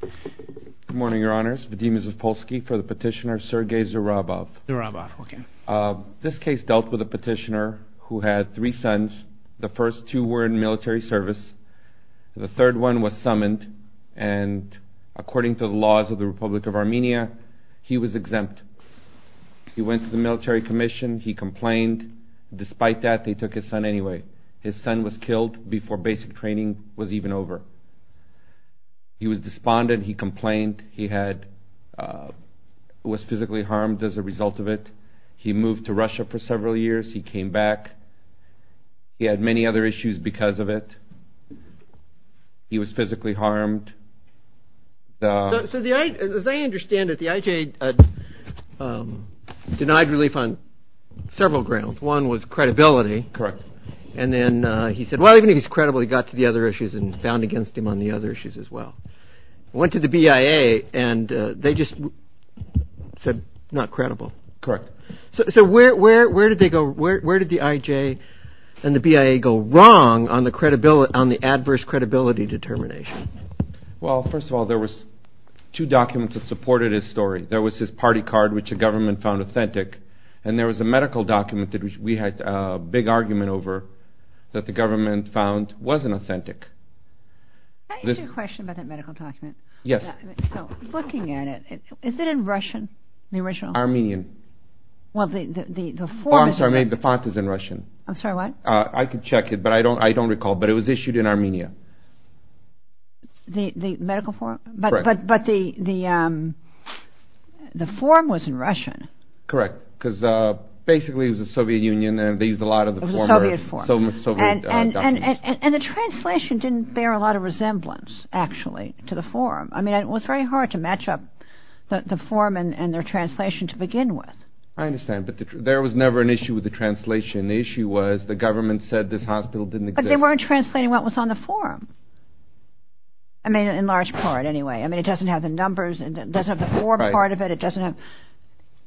Good morning, Your Honors. Vadim Zaspolsky for the petitioner Sergei Zurabov. Zurabov, okay. This case dealt with a petitioner who had three sons. The first two were in military service. The third one was summoned, and according to the laws of the Republic of Armenia, he was exempt. He went to the military commission. He complained. Despite that, they took his son anyway. His son was killed before basic training was even over. He was despondent. He complained. He was physically harmed as a result of it. He moved to Russia for several years. He came back. He had many other issues because of it. He was physically harmed. So as I understand it, the IJ denied relief on several grounds. One was credibility. Correct. And then he said, well, even if he's credible, he got to the other issues and found against him on the other issues as well. Went to the BIA, and they just said, not credible. Correct. So where did the IJ and the BIA go wrong on the adverse credibility determination? Well, first of all, there was two documents that supported his story. There was his party card, which the government found authentic, and there was a medical document that we had a big argument over that the government found wasn't authentic. Can I ask you a question about that medical document? Yes. Looking at it, is it in Russian, the original? Well, the form is in Russian. I'm sorry, the font is in Russian. I'm sorry, what? I can check it, but I don't recall. But it was issued in Armenia. The medical form? Correct. But the form was in Russian. Correct, because basically it was the Soviet Union, and they used a lot of the former Soviet documents. And the translation didn't bear a lot of resemblance, actually, to the form. I mean, it was very hard to match up the form and their translation to begin with. I understand, but there was never an issue with the translation. The issue was the government said this hospital didn't exist. But they weren't translating what was on the form. I mean, in large part, anyway. I mean, it doesn't have the numbers, it doesn't have the form part of it.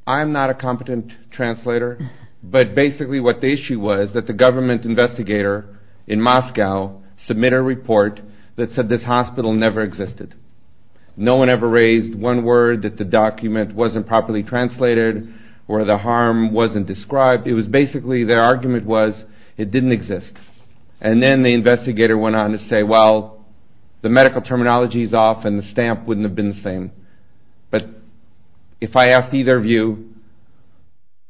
I'm not a competent translator. But basically what the issue was that the government investigator in Moscow submitted a report that said this hospital never existed. No one ever raised one word that the document wasn't properly translated or the harm wasn't described. It was basically, their argument was it didn't exist. And then the investigator went on to say, well, the medical terminology is off and the stamp wouldn't have been the same. But if I asked either of you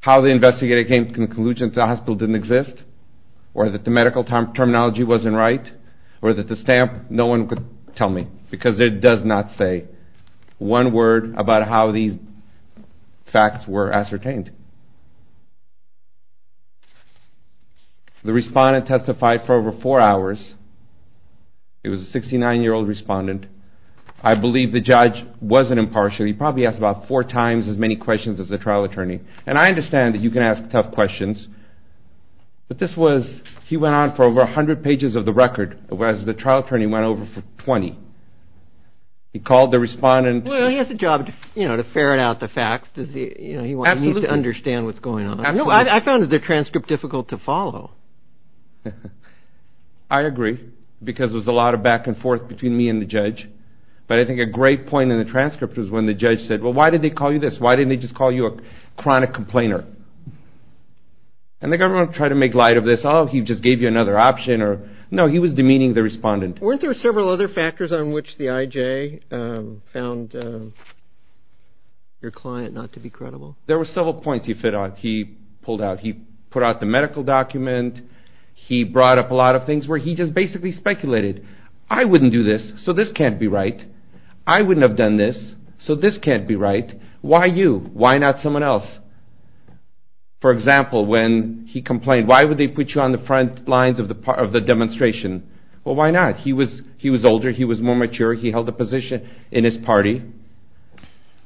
how the investigator came to the conclusion that the hospital didn't exist or that the medical terminology wasn't right or that the stamp, no one could tell me because it does not say one word about how these facts were ascertained. The respondent testified for over four hours. It was a 69-year-old respondent. I believe the judge wasn't impartial. He probably asked about four times as many questions as the trial attorney. And I understand that you can ask tough questions. But this was, he went on for over 100 pages of the record whereas the trial attorney went over for 20. He called the respondent. Well, he has a job to ferret out the facts. He needs to understand what's going on. I found the transcript difficult to follow. I agree because there's a lot of back and forth between me and the judge. But I think a great point in the transcript was when the judge said, well, why did they call you this? Why didn't they just call you a chronic complainer? And the government tried to make light of this. Oh, he just gave you another option. No, he was demeaning the respondent. Weren't there several other factors on which the IJ found your client not to be credible? There were several points he pulled out. He put out the medical document. He brought up a lot of things where he just basically speculated. I wouldn't do this, so this can't be right. I wouldn't have done this, so this can't be right. Why you? Why not someone else? For example, when he complained, why would they put you on the front lines of the demonstration? Well, why not? He was older. He was more mature. He held a position in his party.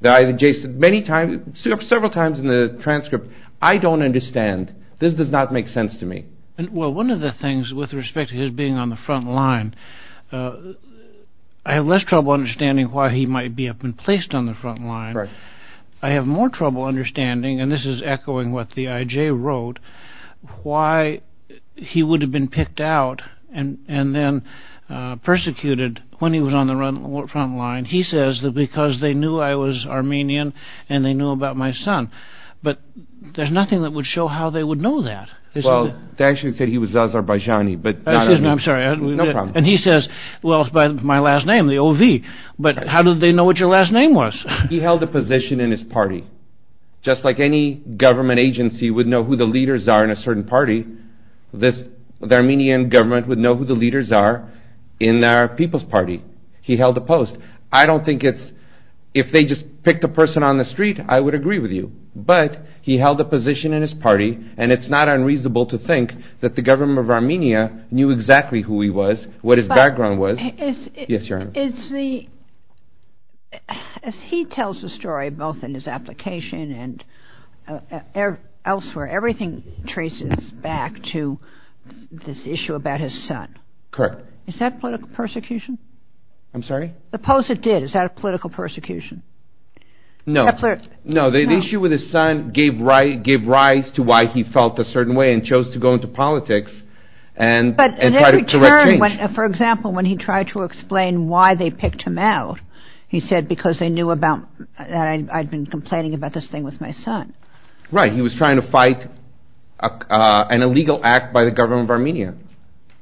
The IJ said many times, several times in the transcript, I don't understand. This does not make sense to me. Well, one of the things with respect to his being on the front line, I have less trouble understanding why he might be up and placed on the front line. I have more trouble understanding, and this is echoing what the IJ wrote, why he would have been picked out and then persecuted when he was on the front line. He says that because they knew I was Armenian and they knew about my son. But there's nothing that would show how they would know that. Well, they actually said he was Azerbaijani. Excuse me, I'm sorry. No problem. And he says, well, it's by my last name, the O.V., but how did they know what your last name was? He held a position in his party. Just like any government agency would know who the leaders are in a certain party, this Armenian government would know who the leaders are in our People's Party. He held a post. I don't think it's – if they just picked a person on the street, I would agree with you. But he held a position in his party, and it's not unreasonable to think that the government of Armenia knew exactly who he was, what his background was. Yes, Your Honor. Is the – as he tells the story, both in his application and elsewhere, everything traces back to this issue about his son. Correct. Is that political persecution? I'm sorry? The POSIT did. Is that political persecution? No. No, the issue with his son gave rise to why he felt a certain way and chose to go into politics and try to correct change. For example, when he tried to explain why they picked him out, he said because they knew about – I'd been complaining about this thing with my son. Right. He was trying to fight an illegal act by the government of Armenia.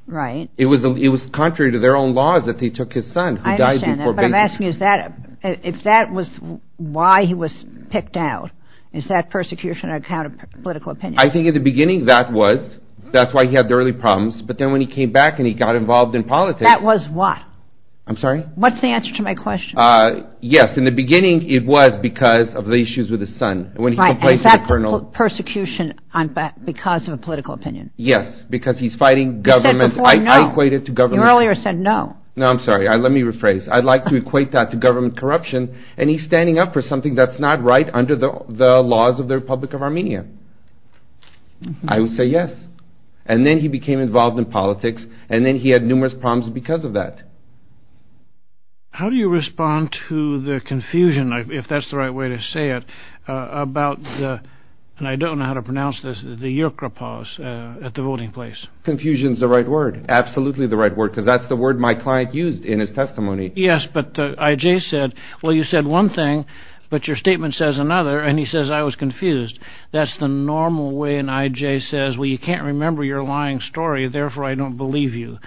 Right. It was contrary to their own laws that they took his son who died before – I understand that, but I'm asking is that – if that was why he was picked out, is that persecution on account of political opinion? I think in the beginning that was. That's why he had the early problems. But then when he came back and he got involved in politics – That was what? I'm sorry? What's the answer to my question? Yes, in the beginning it was because of the issues with his son. Right, and is that persecution because of a political opinion? Yes, because he's fighting government – You earlier said no. No, I'm sorry. Let me rephrase. I'd like to equate that to government corruption, and he's standing up for something that's not right under the laws of the Republic of Armenia. I would say yes. And then he became involved in politics, and then he had numerous problems because of that. How do you respond to the confusion, if that's the right way to say it, about the – and I don't know how to pronounce this – the yerkrepos at the voting place? Confusion's the right word. Absolutely the right word, because that's the word my client used in his testimony. Yes, but I.J. said, well, you said one thing, but your statement says another, and he says I was confused. That's the normal way an I.J. says, well, you can't remember your lying story, therefore I don't believe you.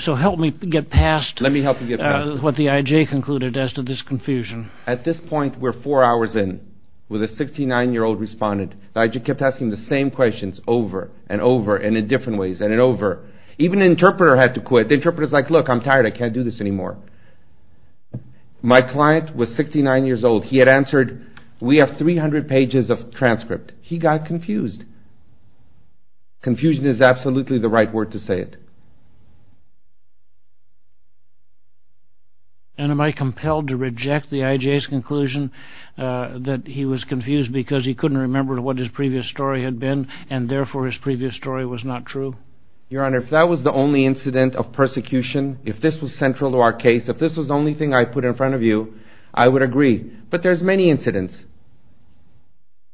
So help me get past what the I.J. concluded as to this confusion. At this point, we're four hours in with a 69-year-old respondent. I.J. kept asking the same questions over and over and in different ways and over. Even the interpreter had to quit. The interpreter's like, look, I'm tired, I can't do this anymore. My client was 69 years old. He had answered, we have 300 pages of transcript. He got confused. Confusion is absolutely the right word to say it. And am I compelled to reject the I.J.'s conclusion that he was confused because he couldn't remember what his previous story had been and therefore his previous story was not true? Your Honor, if that was the only incident of persecution, if this was central to our case, if this was the only thing I put in front of you, I would agree. But there's many incidents.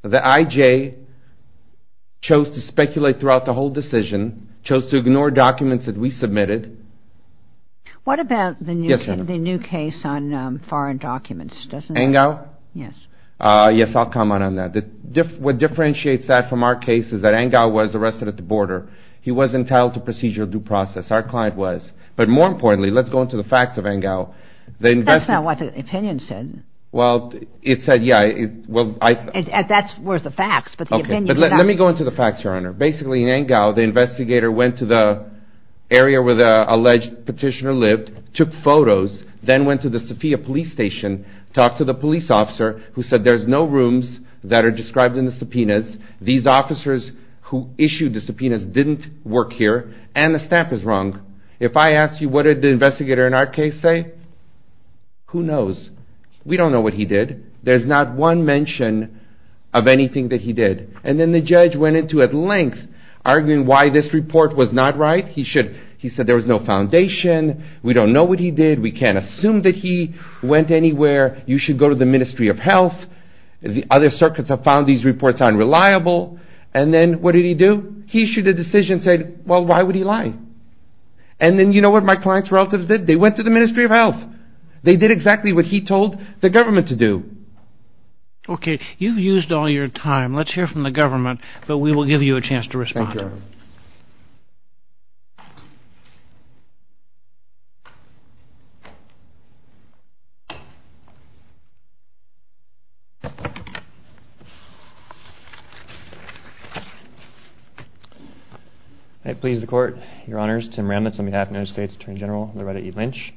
The I.J. chose to speculate throughout the whole decision, chose to ignore documents that we submitted. What about the new case on foreign documents? Engel? Yes. Yes, I'll comment on that. What differentiates that from our case is that Engel was arrested at the border. He was entitled to procedural due process. Our client was. But more importantly, let's go into the facts of Engel. That's not what the opinion said. Well, it said, yeah. That's worth the facts. Let me go into the facts, Your Honor. Basically, in Engel, the investigator went to the area where the alleged petitioner lived, took photos, then went to the Safiya police station, talked to the police officer who said there's no rooms that are described in the subpoenas. These officers who issued the subpoenas didn't work here, and the stamp is wrong. If I asked you what did the investigator in our case say, who knows? We don't know what he did. There's not one mention of anything that he did. And then the judge went into it at length, arguing why this report was not right. He said there was no foundation. We don't know what he did. We can't assume that he went anywhere. You should go to the Ministry of Health. The other circuits have found these reports unreliable. And then what did he do? He issued a decision saying, well, why would he lie? And then you know what my client's relatives did? They went to the Ministry of Health. They did exactly what he told the government to do. Okay. You've used all your time. Thank you, Your Honor. I please the Court. Your Honors, Tim Remnitz on behalf of the United States Attorney General Loretta E. Lynch.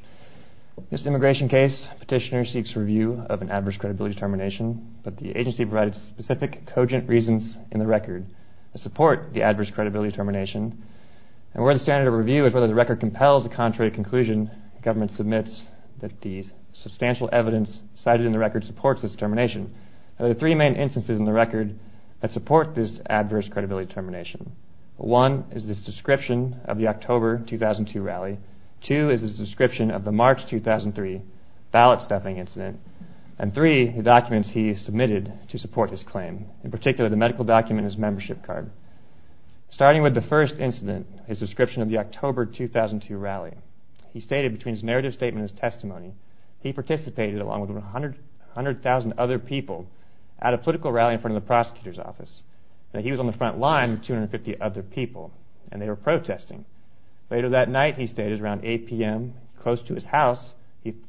This immigration case, Petitioner seeks review of an adverse credibility termination, but the agency provided specific, cogent reasons in the record to support the adverse credibility termination. And where the standard of review is whether the record compels a contrary conclusion, the government submits that the substantial evidence cited in the record supports this termination. There are three main instances in the record that support this adverse credibility termination. One is the subscription of the October 2002 rally. Two is the subscription of the March 2003 ballot stuffing incident. And three, the documents he submitted to support this claim. In particular, the medical document and his membership card. Starting with the first incident, his subscription of the October 2002 rally. He stated between his narrative statement and his testimony, he participated, along with 100,000 other people, at a political rally in front of the prosecutor's office. He was on the front line with 250 other people, and they were protesting. Later that night, he stated, around 8 p.m., close to his house,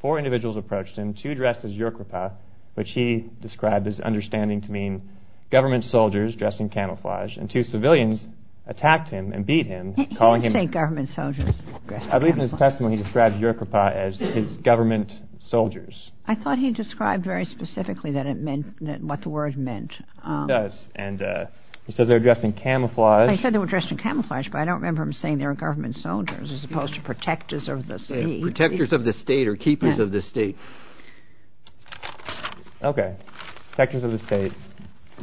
four individuals approached him, two dressed as yerkrapah, which he described as understanding to mean government soldiers dressed in camouflage, and two civilians attacked him and beat him, calling him... In his testimony, he described yerkrapah as his government soldiers. I thought he described very specifically what the word meant. He does, and he says they were dressed in camouflage. He said they were dressed in camouflage, but I don't remember him saying they were government soldiers, as opposed to protectors of the state. Protectors of the state, or keepers of the state. Okay, protectors of the state.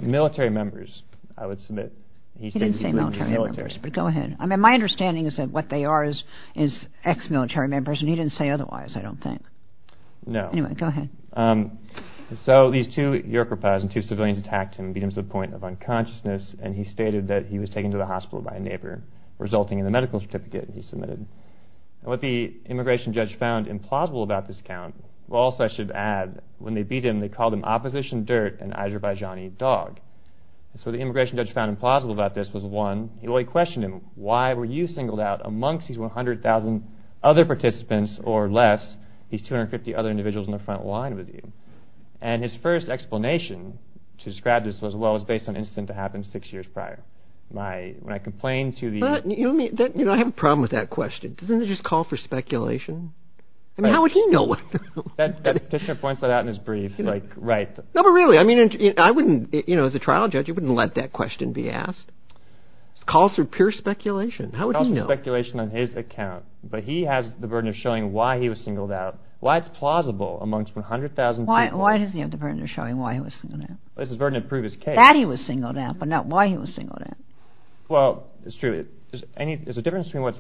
Military members, I would submit. He didn't say military members, but go ahead. I mean, my understanding is that what they are is ex-military members, and he didn't say otherwise, I don't think. No. Anyway, go ahead. So, these two yerkrapahs and two civilians attacked him, beat him to the point of unconsciousness, and he stated that he was taken to the hospital by a neighbor, resulting in the medical certificate he submitted. What the immigration judge found implausible about this account, well, also I should add, when they beat him, they called him opposition dirt, an Azerbaijani dog. So, what the immigration judge found implausible about this was, one, well, he questioned him. Why were you singled out amongst these 100,000 other participants, or less, these 250 other individuals in the front line with you? And his first explanation to describe this was, well, it was based on an incident that happened six years prior. When I complained to the- But, you know what I mean, I have a problem with that question. Doesn't it just call for speculation? I mean, how would he know what- The petitioner points that out in his brief, like, right. No, but really, I mean, I wouldn't, you know, as a trial judge, you wouldn't let that question be asked. It calls for pure speculation. How would he know? It calls for speculation on his account. But he has the burden of showing why he was singled out, why it's plausible amongst 100,000 people. Why does he have the burden of showing why he was singled out? Well, it's his burden to prove his case. That he was singled out, but not why he was singled out. Well, it's true. There's a difference between what's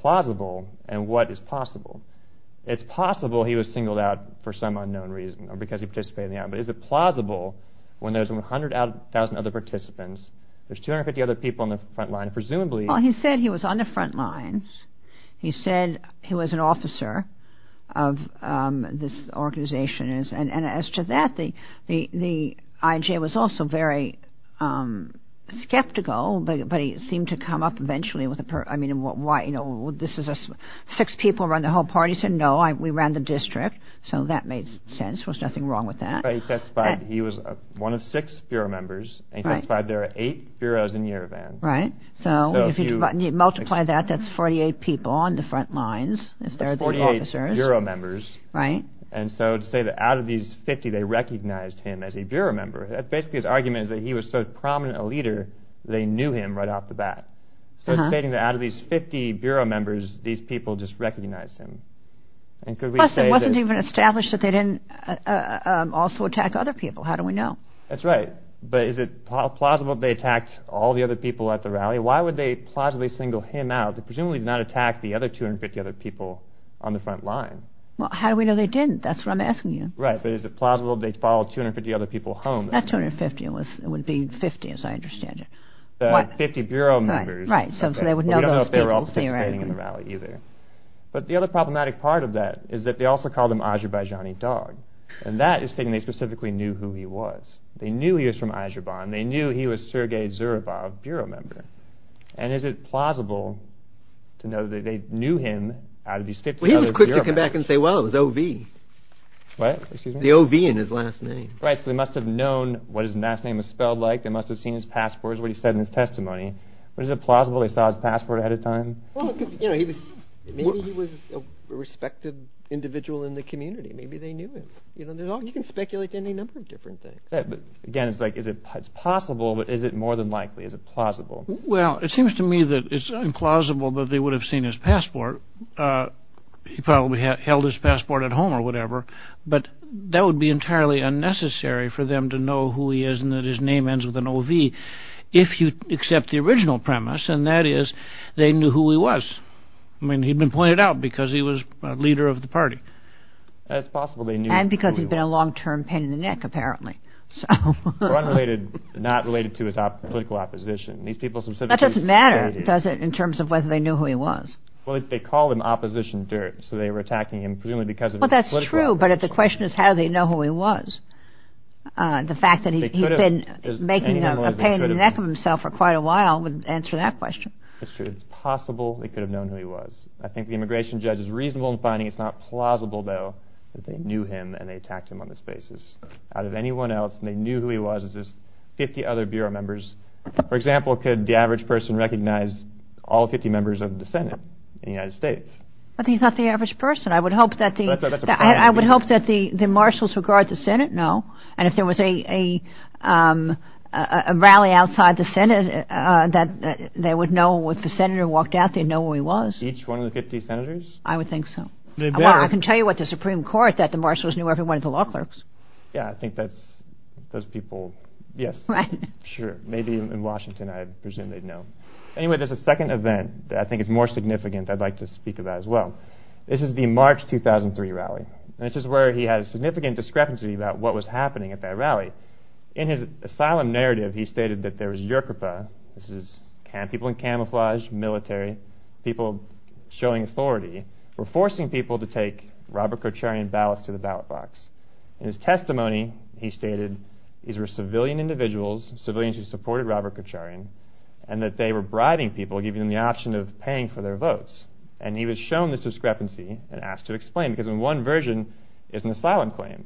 plausible and what is possible. It's possible he was singled out for some unknown reason, or because he participated in the act. But is it plausible when there's 100,000 other participants, there's 250 other people on the front line, presumably- Well, he said he was on the front lines. He said he was an officer of this organization. And as to that, the IJ was also very skeptical. But he seemed to come up eventually with a- I mean, why, you know, this is a- Six people run the whole party. He said, no, we ran the district. So that made sense. There was nothing wrong with that. He testified he was one of six bureau members. And he testified there are eight bureaus in Yerevan. Right. So if you multiply that, that's 48 people on the front lines. That's 48 bureau members. Right. And so to say that out of these 50, they recognized him as a bureau member, that's basically his argument is that he was so prominent a leader, they knew him right off the bat. So it's stating that out of these 50 bureau members, these people just recognized him. Plus, it wasn't even established that they didn't also attack other people. How do we know? That's right. But is it plausible they attacked all the other people at the rally? Why would they plausibly single him out? They presumably did not attack the other 250 other people on the front line. Well, how do we know they didn't? That's what I'm asking you. Right. But is it plausible they followed 250 other people home? Not 250. It would be 50, as I understand it. The 50 bureau members. Right. So they would know those people. We don't know if they were all participating in the rally either. But the other problematic part of that is that they also called him an Azerbaijani dog. And that is stating they specifically knew who he was. They knew he was from Azerbaijan. They knew he was Sergei Zhuravov, bureau member. And is it plausible to know that they knew him out of these 50 other bureau members? Well, he was quick to come back and say, well, it was O.V. What? The O.V. in his last name. Right. So they must have known what his last name was spelled like. They must have seen his passport, what he said in his testimony. But is it plausible they saw his passport ahead of time? Maybe he was a respected individual in the community. Maybe they knew him. You can speculate any number of different things. Again, it's like, is it possible? But is it more than likely? Is it plausible? Well, it seems to me that it's implausible that they would have seen his passport. He probably held his passport at home or whatever. But that would be entirely unnecessary for them to know who he is and that his name ends with an O.V. if you accept the original premise, and that is they knew who he was. I mean, he'd been pointed out because he was a leader of the party. That's possible they knew who he was. And because he'd been a long-term pain in the neck, apparently. Or unrelated, not related to his political opposition. That doesn't matter, does it, in terms of whether they knew who he was. Well, they called him opposition dirt. So they were attacking him presumably because of his political opposition. Well, that's true, but the question is how do they know who he was? The fact that he'd been making a pain in the neck of himself for quite a while would answer that question. That's true. It's possible they could have known who he was. I think the immigration judge is reasonable in finding it's not plausible, though, that they knew him and they attacked him on this basis. Out of anyone else and they knew who he was, it's just 50 other Bureau members. For example, could the average person recognize all 50 members of the Senate in the United States? But he's not the average person. I would hope that the marshals who guard the Senate know. And if there was a rally outside the Senate, that they would know if the senator walked out, they'd know who he was. Each one of the 50 senators? I would think so. Well, I can tell you what the Supreme Court, that the marshals knew every one of the law clerks. Yeah, I think that's those people, yes. Right. Sure. Maybe in Washington I presume they'd know. Anyway, there's a second event that I think is more significant that I'd like to speak about as well. This is the March 2003 rally. And this is where he had a significant discrepancy about what was happening at that rally. In his asylum narrative, he stated that there was Yoruba, people in camouflage, military, people showing authority, were forcing people to take Robert Kocharian ballots to the ballot box. In his testimony, he stated these were civilian individuals, civilians who supported Robert Kocharian, and that they were bribing people, giving them the option of paying for their votes. And he was shown this discrepancy and asked to explain. Because in one version, it's an asylum claim.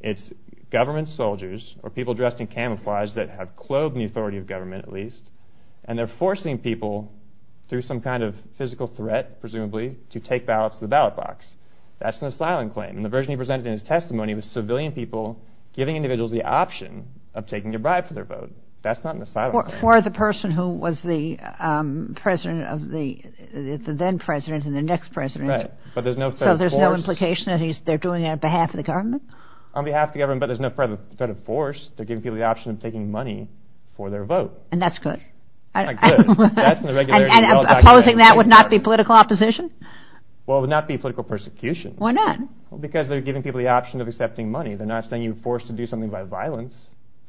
It's government soldiers or people dressed in camouflage that have clobed the authority of government at least, and they're forcing people through some kind of physical threat, presumably, to take ballots to the ballot box. That's an asylum claim. And the version he presented in his testimony was civilian people giving individuals the option of taking a bribe for their vote. That's not an asylum claim. For the person who was the president of the then president and the next president. Right, but there's no threat of force. So there's no implication that they're doing it on behalf of the government? On behalf of the government, but there's no threat of force. They're giving people the option of taking money for their vote. And that's good. Not good. And opposing that would not be political opposition? Well, it would not be political persecution. Why not? Because they're giving people the option of accepting money. They're not saying you're forced to do something by violence.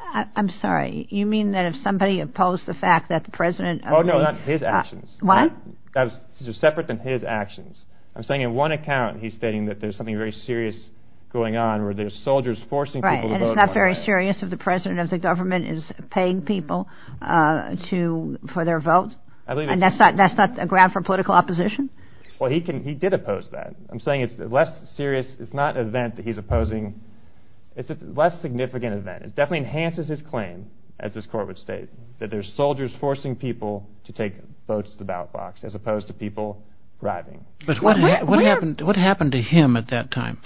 I'm sorry. You mean that if somebody opposed the fact that the president... Oh, no, not his actions. What? Those are separate than his actions. I'm saying in one account he's stating that there's something very serious going on where there's soldiers forcing people to vote. Right, and it's not very serious if the president of the government is paying people for their vote? I believe it's... And that's not a ground for political opposition? Well, he did oppose that. I'm saying it's a less serious, it's not an event that he's opposing. It's a less significant event. It definitely enhances his claim, as this court would state, that there's soldiers forcing people to take votes to the ballot box as opposed to people bribing. But what happened to him at that time?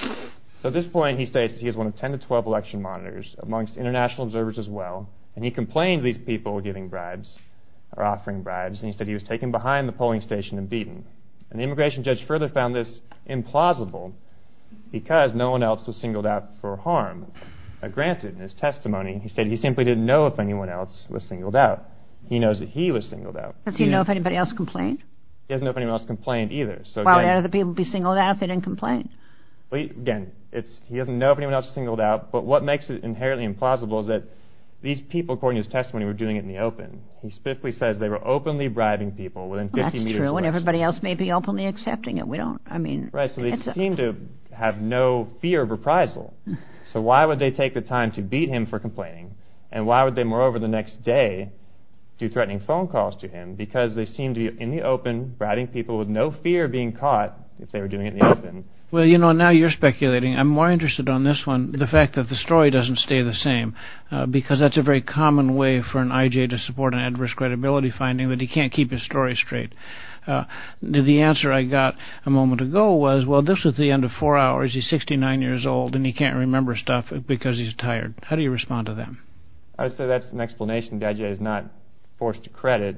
So at this point he states he was one of 10 to 12 election monitors amongst international observers as well. And he complained these people were giving bribes or offering bribes. And he said he was taken behind the polling station and beaten. And the immigration judge further found this implausible because no one else was singled out for harm. Now granted, in his testimony he said he simply didn't know if anyone else was singled out. He knows that he was singled out. Does he know if anybody else complained? He doesn't know if anyone else complained either. Why would other people be singled out if they didn't complain? Well, again, he doesn't know if anyone else was singled out. But what makes it inherently implausible is that these people, according to his testimony, were doing it in the open. He specifically says they were openly bribing people within 50 meters of... Well, that's true, and everybody else may be openly accepting it. We don't, I mean... Right, so they seem to have no fear of reprisal. So why would they take the time to beat him for complaining? And why would they, moreover, the next day do threatening phone calls to him? Because they seem to be in the open, bribing people with no fear of being caught if they were doing it in the open. Well, you know, now you're speculating. I'm more interested on this one, the fact that the story doesn't stay the same. Because that's a very common way for an I.J. to support an adverse credibility finding, that he can't keep his story straight. The answer I got a moment ago was, well, this was the end of four hours. He's 69 years old, and he can't remember stuff because he's tired. How do you respond to that? I would say that's an explanation the I.J. is not forced to credit.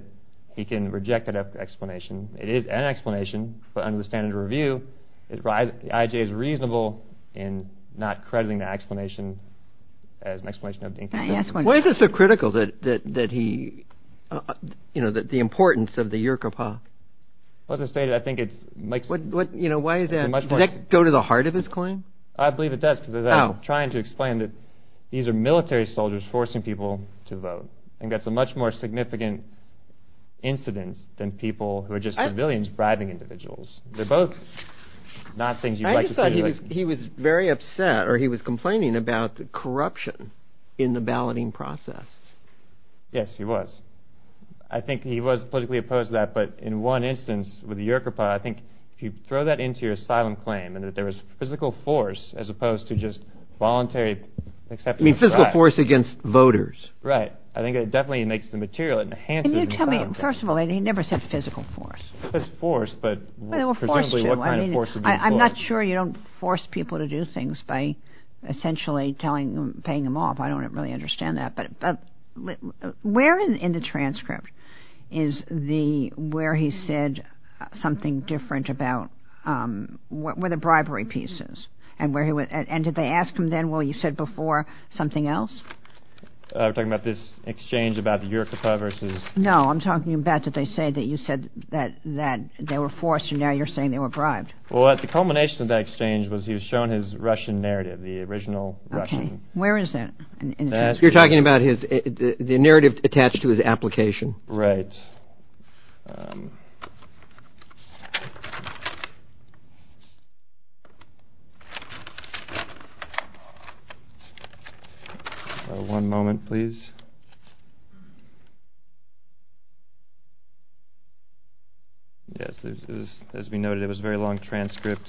He can reject that explanation. It is an explanation, but under the standard of review, the I.J. is reasonable in not crediting the explanation as an explanation of... Why is it so critical that he, you know, the importance of the Yirka Pak? Well, as I stated, I think it's... You know, why is that? Does that go to the heart of his claim? I believe it does because I'm trying to explain that these are military soldiers forcing people to vote. I think that's a much more significant incident than people who are just civilians bribing individuals. They're both not things you'd like to see. He was very upset, or he was complaining about corruption in the balloting process. Yes, he was. I think he was politically opposed to that, but in one instance with the Yirka Pak, I think if you throw that into your asylum claim, and that there was physical force as opposed to just voluntary acceptance... You mean physical force against voters. Right. I think it definitely makes the material... Can you tell me, first of all, he never said physical force. It was force, but presumably what kind of force would be force? I'm not sure you don't force people to do things by essentially paying them off. I don't really understand that. But where in the transcript is where he said something different about where the bribery piece is? And did they ask him then, well, you said before, something else? You're talking about this exchange about the Yirka Pak versus... No, I'm talking about that they say that you said that they were forced, and now you're saying they were bribed. Well, the culmination of that exchange was he was shown his Russian narrative, the original Russian... Okay. Where is that? You're talking about the narrative attached to his application. Right. One moment, please. Yes, as we noted, it was a very long transcript.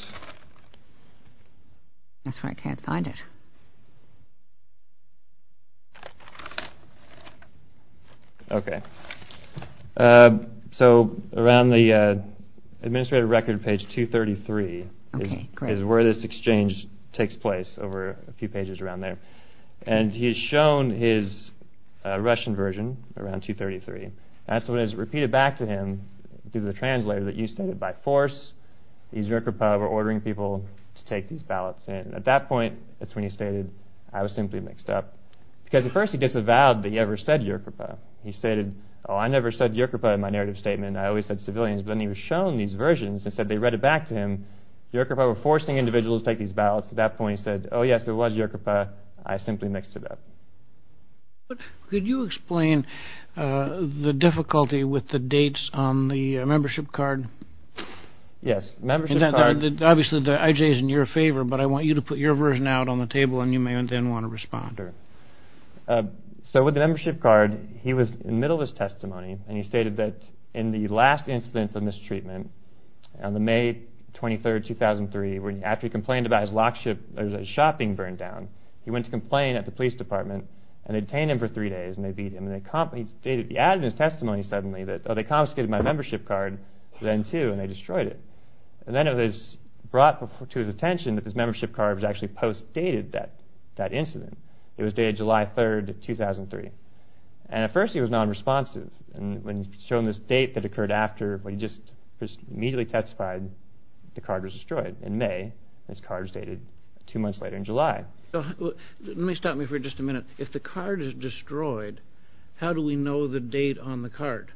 That's why I can't find it. Okay. So around the administrative record page 233 is where this exchange takes place, over a few pages around there. And he's shown his Russian version around 233. That's what is repeated back to him through the translator that you said it by force. These Yirka Pak were ordering people to take these ballots in. At that point, that's when he stated, I was simply mixed up. Because at first he disavowed that he ever said Yirka Pak. He stated, oh, I never said Yirka Pak in my narrative statement. I always said civilians. But then he was shown these versions and said they read it back to him. Yirka Pak were forcing individuals to take these ballots. At that point, he said, oh, yes, it was Yirka Pak. I simply mixed it up. Could you explain the difficulty with the dates on the membership card? Yes. Obviously, the IJ is in your favor, but I want you to put your version out on the table, and you may then want to respond. So with the membership card, he was in the middle of his testimony, and he stated that in the last instance of mistreatment, on the May 23, 2003, after he complained about his lock ship, his shopping burned down, he went to complain at the police department and they detained him for three days. He added in his testimony suddenly that, oh, they confiscated my membership card then, too, and they destroyed it. And then it was brought to his attention that this membership card was actually post-dated that incident. It was dated July 3, 2003. And at first he was nonresponsive. He was shown this date that occurred after, but he just immediately testified the card was destroyed in May, and this card was dated two months later in July. Let me stop you for just a minute. If the card is destroyed, how do we know the date on the card?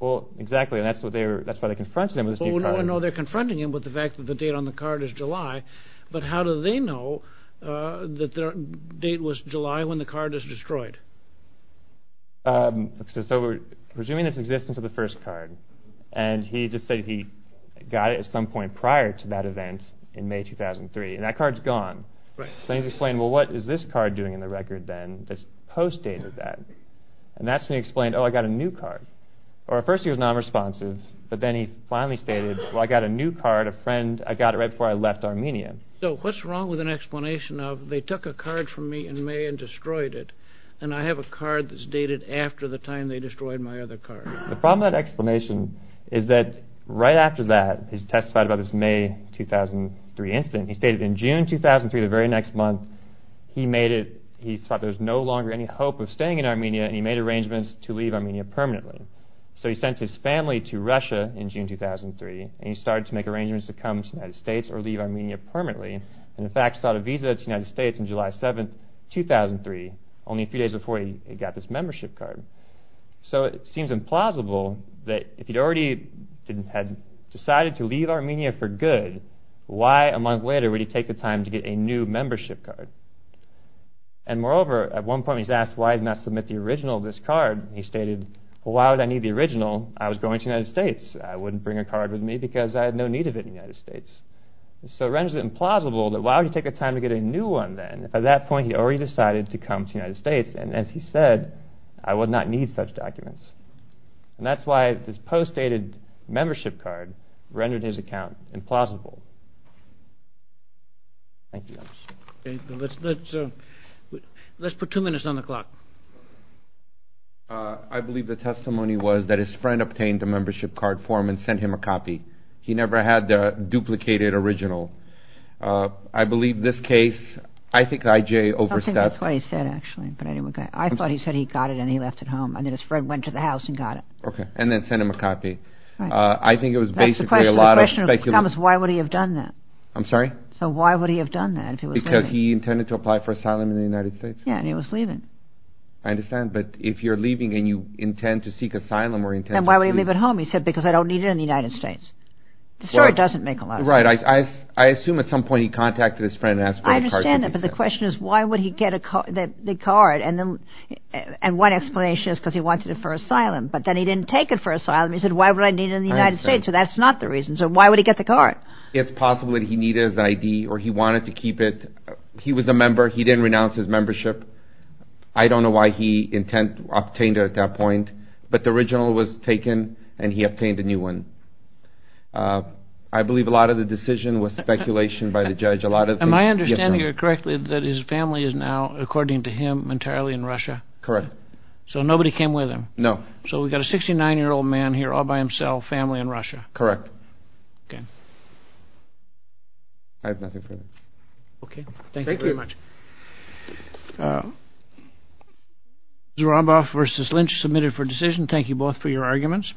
Well, exactly, and that's why they're confronting him with this new card. No, they're confronting him with the fact that the date on the card is July, but how do they know that the date was July when the card is destroyed? So we're presuming it's in existence of the first card, and he just said he got it at some point prior to that event in May 2003, and that card's gone. So then he's explaining, well, what is this card doing in the record then that's post-dated that? And that's when he explained, oh, I got a new card. Or at first he was nonresponsive, but then he finally stated, well, I got a new card, a friend. I got it right before I left Armenia. So what's wrong with an explanation of they took a card from me in May and destroyed it, and I have a card that's dated after the time they destroyed my other card? The problem with that explanation is that right after that, he testified about this May 2003 incident. He stated in June 2003, the very next month, he thought there was no longer any hope of staying in Armenia, and he made arrangements to leave Armenia permanently. So he sent his family to Russia in June 2003, and he started to make arrangements to come to the United States or leave Armenia permanently, and, in fact, he sought a visa to the United States on July 7, 2003, only a few days before he got this membership card. So it seems implausible that if he'd already decided to leave Armenia for good, why a month later would he take the time to get a new membership card? And moreover, at one point he's asked why he did not submit the original of this card, and he stated, well, why would I need the original? I was going to the United States. I wouldn't bring a card with me because I had no need of it in the United States. So it renders it implausible that why would he take the time to get a new one then? At that point he already decided to come to the United States, and as he said, I would not need such documents. And that's why this post-dated membership card rendered his account implausible. Thank you. Let's put two minutes on the clock. I believe the testimony was that his friend obtained a membership card form and sent him a copy. He never had the duplicated original. I believe this case, I think I.J. overstepped. I don't think that's what he said, actually, but I thought he said he got it and he left it home and then his friend went to the house and got it. Okay, and then sent him a copy. I think it was basically a lot of speculation. Thomas, why would he have done that? I'm sorry? So why would he have done that if he was leaving? Because he intended to apply for asylum in the United States. Yeah, and he was leaving. I understand, but if you're leaving and you intend to seek asylum or intend to leave. He didn't leave it home, he said, because I don't need it in the United States. The story doesn't make a lot of sense. Right, I assume at some point he contacted his friend and asked for a card. I understand that, but the question is why would he get the card? And one explanation is because he wanted it for asylum, but then he didn't take it for asylum. He said, why would I need it in the United States? So that's not the reason. So why would he get the card? It's possible that he needed his ID or he wanted to keep it. He was a member. He didn't renounce his membership. I don't know why he obtained it at that point. But the original was taken and he obtained a new one. I believe a lot of the decision was speculation by the judge. Am I understanding it correctly that his family is now, according to him, entirely in Russia? Correct. So nobody came with him? No. So we've got a 69-year-old man here all by himself, family in Russia. Correct. Okay. I have nothing further. Okay, thank you very much. Thank you. Mr. Romboff versus Lynch, submitted for decision. Thank you both for your arguments.